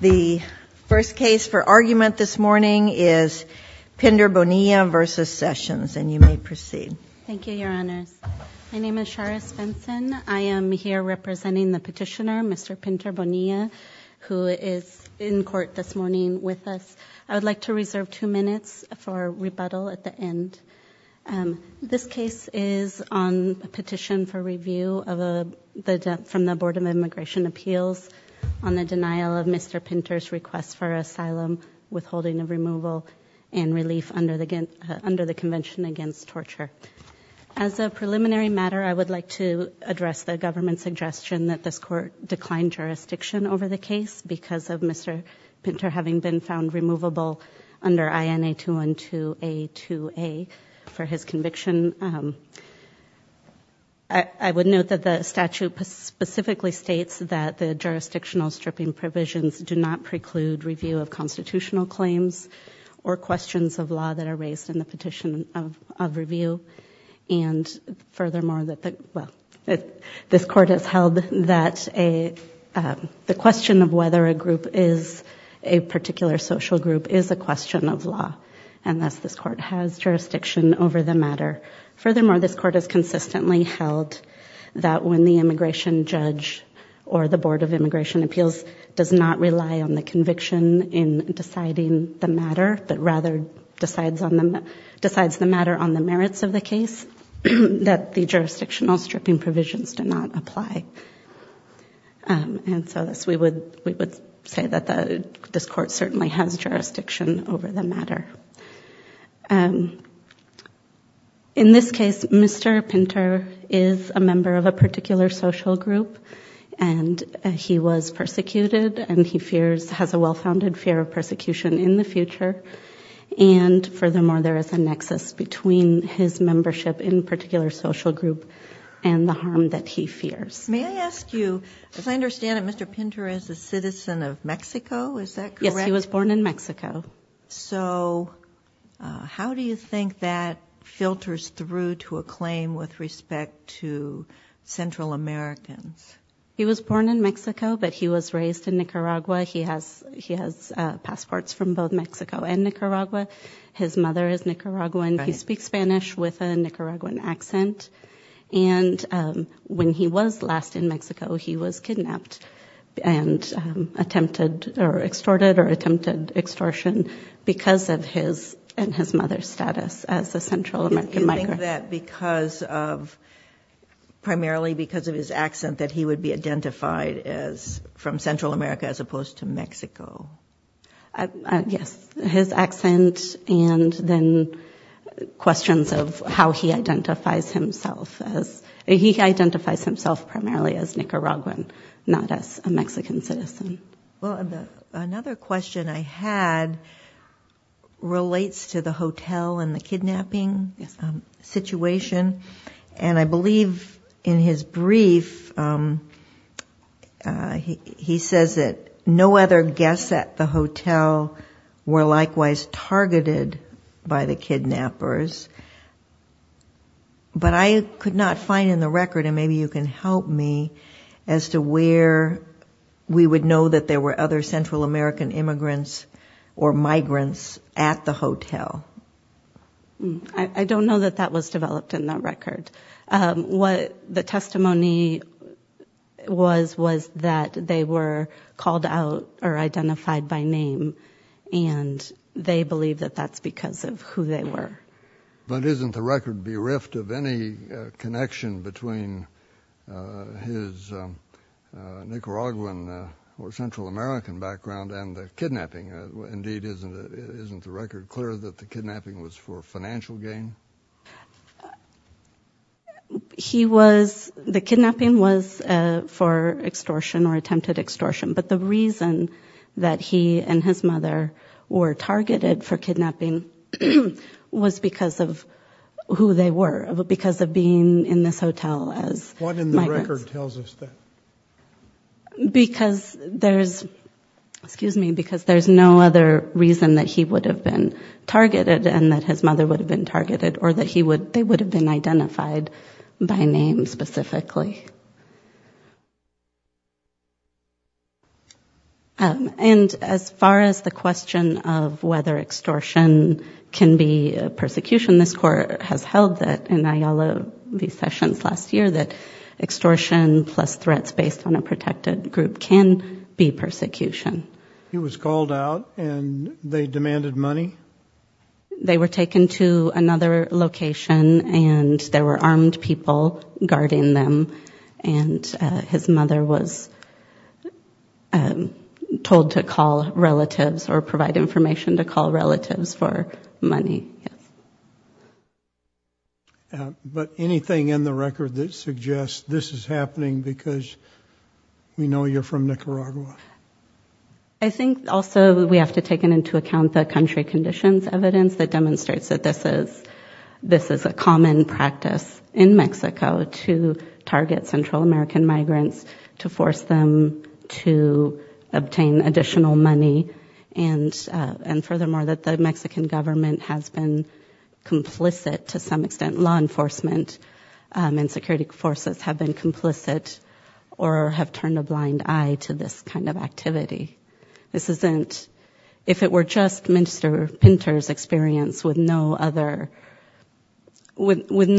The first case for argument this morning is Pindter-Bonilla v. Sessions, and you may proceed. Thank you, Your Honors. My name is Charis Benson. I am here representing the petitioner, Mr. Pindter-Bonilla, who is in court this morning with us. I would like to reserve two minutes for rebuttal at the end. This case is on a petition for review from the Board of Immigration Appeals on the denial of Mr. Pindter's request for asylum, withholding of removal, and relief under the Convention Against Torture. As a preliminary matter, I would like to address the government's suggestion that this Court decline jurisdiction over the case because of Mr. Pindter having been found removable under INA 212A2A for his conviction. I would note that the statute specifically states that the jurisdictional stripping provisions do not preclude review of constitutional claims or questions of law that are raised in the petition of review. Furthermore, this Court has held that the question of whether a particular social group is a question of law, and thus this Court has jurisdiction over the matter. In this case, Mr. Pindter is a member of a particular social group, and he was persecuted, and he has a well-founded fear of persecution in the future. And furthermore, there is a nexus between his membership in a particular social group and the harm that he fears. May I ask you, as I understand it, Mr. Pindter is a citizen of Mexico, is that correct? Yes, he was born in Mexico. So how do you think that filters through to a claim with respect to Central Americans? He was born in Mexico, but he was raised in Nicaragua. He has passports from both Mexico and Nicaragua. His mother is Nicaraguan. He speaks Spanish with a Nicaraguan accent. And when he was last in Mexico, he was kidnapped and attempted or extorted or attempted extortion because of his and his mother's status as a Central American migrant. Is that because of, primarily because of his accent, that he would be identified as from Central America as opposed to Mexico? Yes, his accent and then questions of how he identifies himself as, he identifies himself primarily as Nicaraguan, not as a Mexican citizen. Another question I had relates to the hotel and the kidnapping situation. And I believe in his brief, he says that no other guests at the hotel were likewise targeted by the kidnappers. But I could not find in the record, and maybe you can help me, as to where we would know that there were other Central American immigrants or migrants at the hotel. I don't know that that was developed in that record. What the testimony was, was that they were called out or identified by name, and they believe that that's because of who they were. But isn't the record bereft of any connection between his Nicaraguan or Central American background and the kidnapping? Indeed, isn't the record clear that the kidnapping was for financial gain? He was, the kidnapping was for extortion or attempted extortion. But the reason that he and his mother were targeted for kidnapping was because of who they were, because of being in this hotel as migrants. What in the record tells us that? Because there's, excuse me, because there's no other reason that he would have been targeted and that his mother would have been targeted, or that they would have been identified by name specifically. And as far as the question of whether extortion can be persecution, this court has held that in Ayala v. Sessions last year, that extortion plus threats based on a protected group can be persecution. He was called out, and they demanded money? They were taken to another location, and there were armed people guarding them, and his mother was told to call relatives or provide information to call relatives for money. But anything in the record that suggests this is happening because we know you're from Nicaragua? I think also we have to take into account the country conditions evidence that demonstrates that this is a common practice in Mexico to target Central American migrants to force them to obtain additional money. And furthermore, that the Mexican government has been complicit to some extent, law enforcement and security forces have been complicit or have turned a blind eye to this kind of activity. If it were just Minister Pinter's experience with no one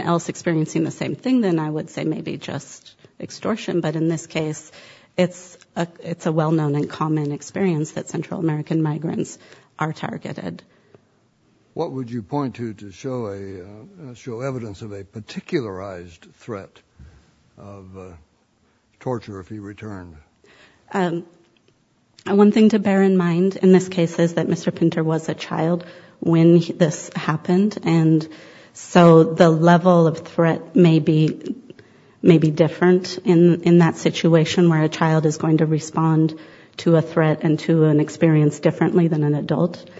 else experiencing the same thing, then I would say maybe just extortion. But in this case, it's a well-known and common experience that Central American migrants are targeted. What would you point to to show evidence of a particularized threat of torture if he returned? One thing to bear in mind in this case is that Mr. Pinter was a child when this happened, and so the level of threat may be different in that situation where a child is going to respond to a threat and to an experience differently than an adult.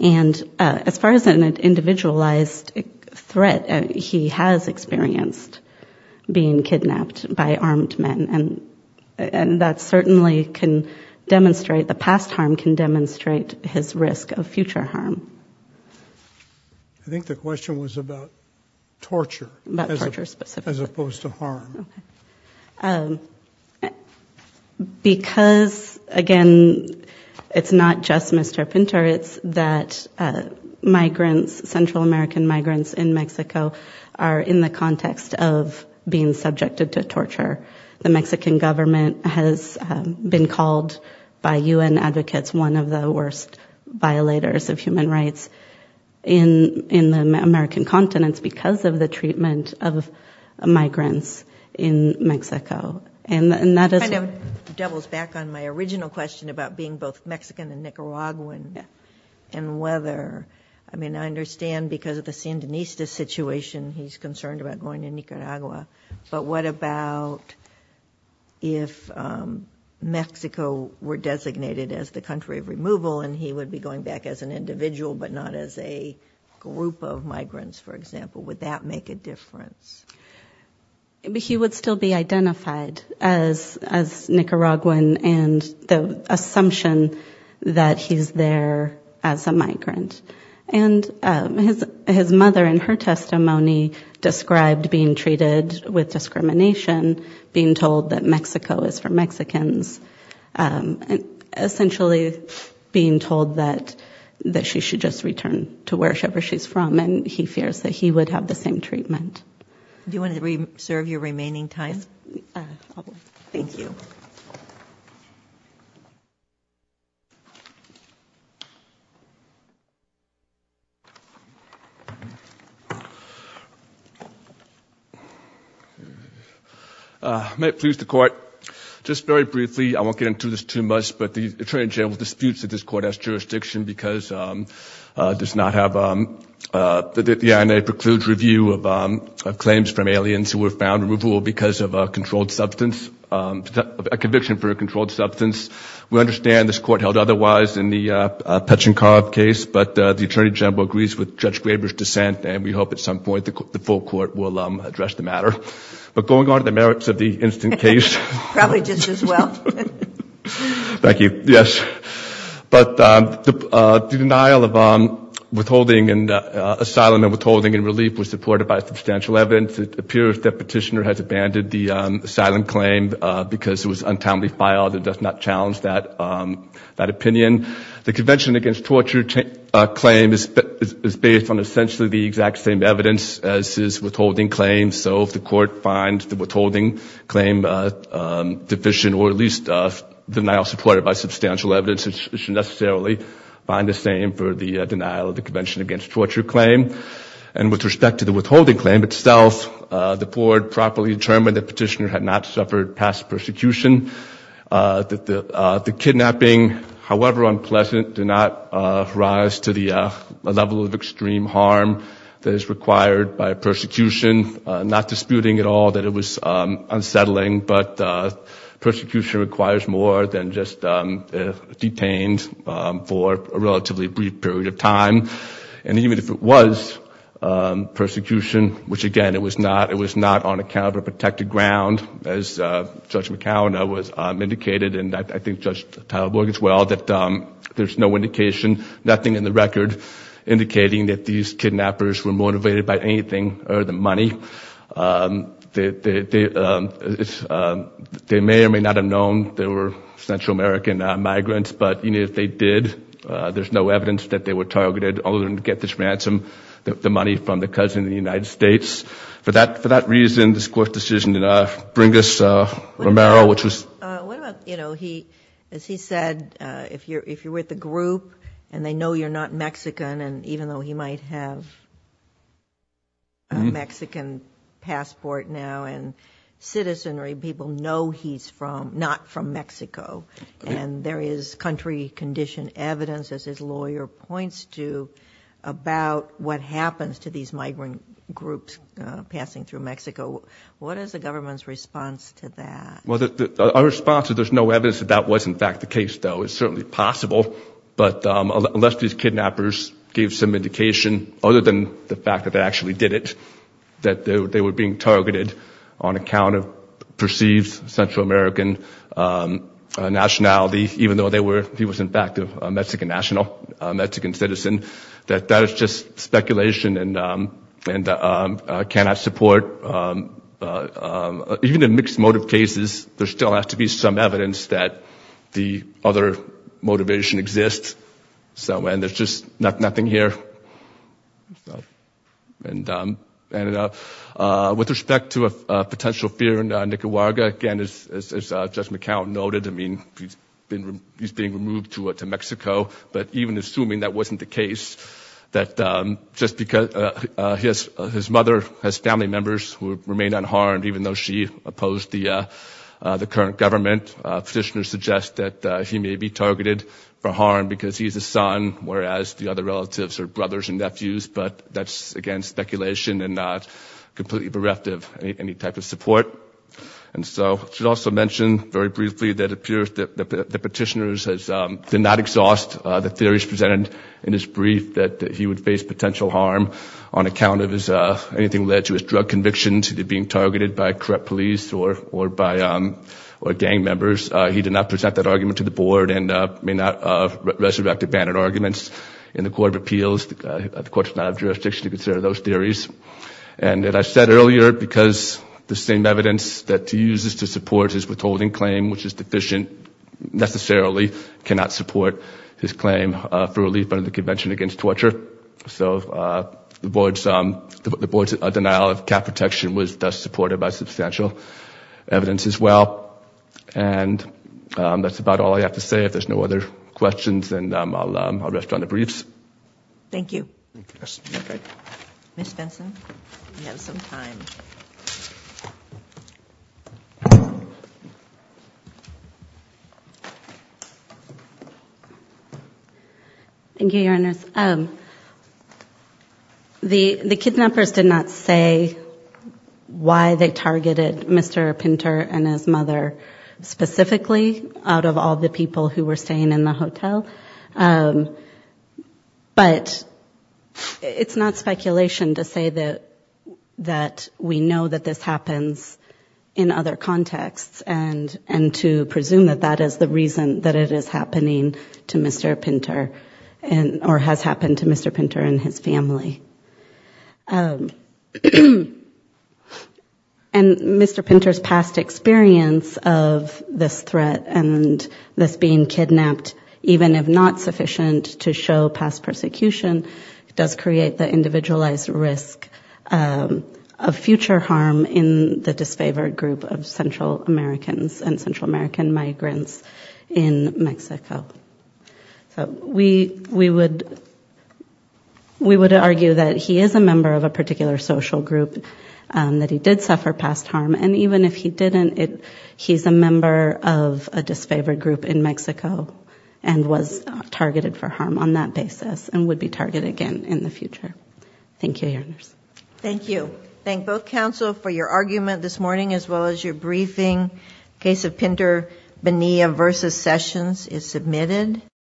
And as far as an individualized threat, he has experienced being kidnapped by armed men, and that certainly can demonstrate, the past harm can demonstrate his risk of future harm. I think the question was about torture as opposed to harm. Because, again, it's not just Mr. Pinter, it's that migrants, Central American migrants in Mexico are in the context of being subjected to torture. The Mexican government has been called by U.N. advocates one of the worst violators of human rights in the American continents because of the treatment of migrants in Mexico. It kind of doubles back on my original question about being both Mexican and Nicaraguan and whether, I mean, I understand because of the Sandinista situation, he's concerned about going to Nicaragua. But what about if Mexico were designated as the country of removal and he would be going back as an individual but not as a group of migrants, for example, would that make a difference? He would still be identified as Nicaraguan and the assumption that he's there as a migrant. And his mother, in her testimony, described being treated with discrimination, being told that Mexico is for Mexicans, essentially being told that she should just return to wherever she's from, and he fears that he would have the same treatment. Do you want to reserve your remaining time? Thank you. May it please the court, just very briefly, I won't get into this too much, but the attorney general disputes that this court has jurisdiction because it does not have, the INA precludes review of claims from aliens who were found removable because of a controlled substance, a conviction for a controlled substance. We understand this court held otherwise in the Petchenkov case, but the attorney general agrees with Judge Graber's dissent and we hope at some point the full court will address the matter. But going on to the merits of the instant case. Probably just as well. Thank you. Yes. But the denial of withholding and asylum and withholding and relief was supported by substantial evidence. It appears that Petitioner has abandoned the asylum claim because it was untimely filed and does not challenge that opinion. The Convention Against Torture claim is based on essentially the exact same evidence as his withholding claim. And so if the court finds the withholding claim deficient or at least denial supported by substantial evidence, it should necessarily find the same for the denial of the Convention Against Torture claim. And with respect to the withholding claim itself, the court properly determined that Petitioner had not suffered past persecution. The kidnapping, however unpleasant, did not rise to the level of extreme harm that is required by persecution. Not disputing at all that it was unsettling, but persecution requires more than just detained for a relatively brief period of time. And even if it was persecution, which again it was not, it was not on account of a protected ground, as Judge McAllen indicated and I think Judge Tyler-Borg as well, that there's no indication, nothing in the record, indicating that these kidnappers were motivated by anything other than money. They may or may not have known they were Central American migrants, but even if they did, there's no evidence that they were targeted other than to get this ransom, the money from the cousin of the United States. For that reason, this court's decision did not bring us Romero, which was... What about, you know, he, as he said, if you're with a group and they know you're not Mexican, and even though he might have a Mexican passport now and citizenry, people know he's not from Mexico. And there is country condition evidence, as his lawyer points to, about what happens to these migrant groups passing through Mexico. What is the government's response to that? There's no evidence that that was in fact the case, though. It's certainly possible, but unless these kidnappers gave some indication other than the fact that they actually did it, that they were being targeted on account of perceived Central American nationality, even though they were, he was in fact a Mexican national, a Mexican citizen, that that is just speculation and cannot support. Even in mixed motive cases, there still has to be some evidence that the other motivation exists. So, and there's just nothing here. With respect to a potential fear in Nicaragua, again, as Judge McCown noted, I mean, he's being removed to Mexico, but even assuming that wasn't the case, that just because his mother has family members who remain unharmed, even though she opposed the current government, petitioners suggest that he may be targeted for harm because he's a son, whereas the other relatives are brothers and nephews, but that's, again, speculation and not completely bereft of any type of support. And so I should also mention, very briefly, that it appears that the petitioners did not exhaust the theories presented in his brief that he would face potential harm on account of anything led to his drug convictions, either being targeted by corrupt police or gang members. He did not present that argument to the board and may not resurrect abandoned arguments in the Court of Appeals. The Court does not have jurisdiction to consider those theories. And as I said earlier, because the same evidence that he uses to support his withholding claim, which is deficient, necessarily cannot support his claim for relief under the Convention Against Torture. So the board's denial of cap protection was thus supported by substantial evidence as well. And that's about all I have to say. If there's no other questions, then I'll rest on the briefs. Thank you. Ms. Benson, you have some time. Thank you, Your Honor. The kidnappers did not say why they targeted Mr. Pinter and his mother specifically, out of all the people who were staying in the hotel. But it's not speculation to say that we know that this happens in other contexts and to presume that that is the reason that it is happening to Mr. Pinter or has happened to Mr. Pinter and his family. And Mr. Pinter's past experience of this threat and this being kidnapped, even if not sufficient to show past persecution, does create the individualized risk of future harm in the disfavored group of Central Americans and Central American migrants in Mexico. So we would argue that he is a member of a particular social group, that he did suffer past harm. And even if he didn't, he's a member of a disfavored group in Mexico and was targeted for harm on that basis and would be targeted again in the future. Thank you, Your Honors. Thank you. Thank both counsel for your argument this morning as well as your briefing. Case of Pinter Bonilla v. Sessions is submitted.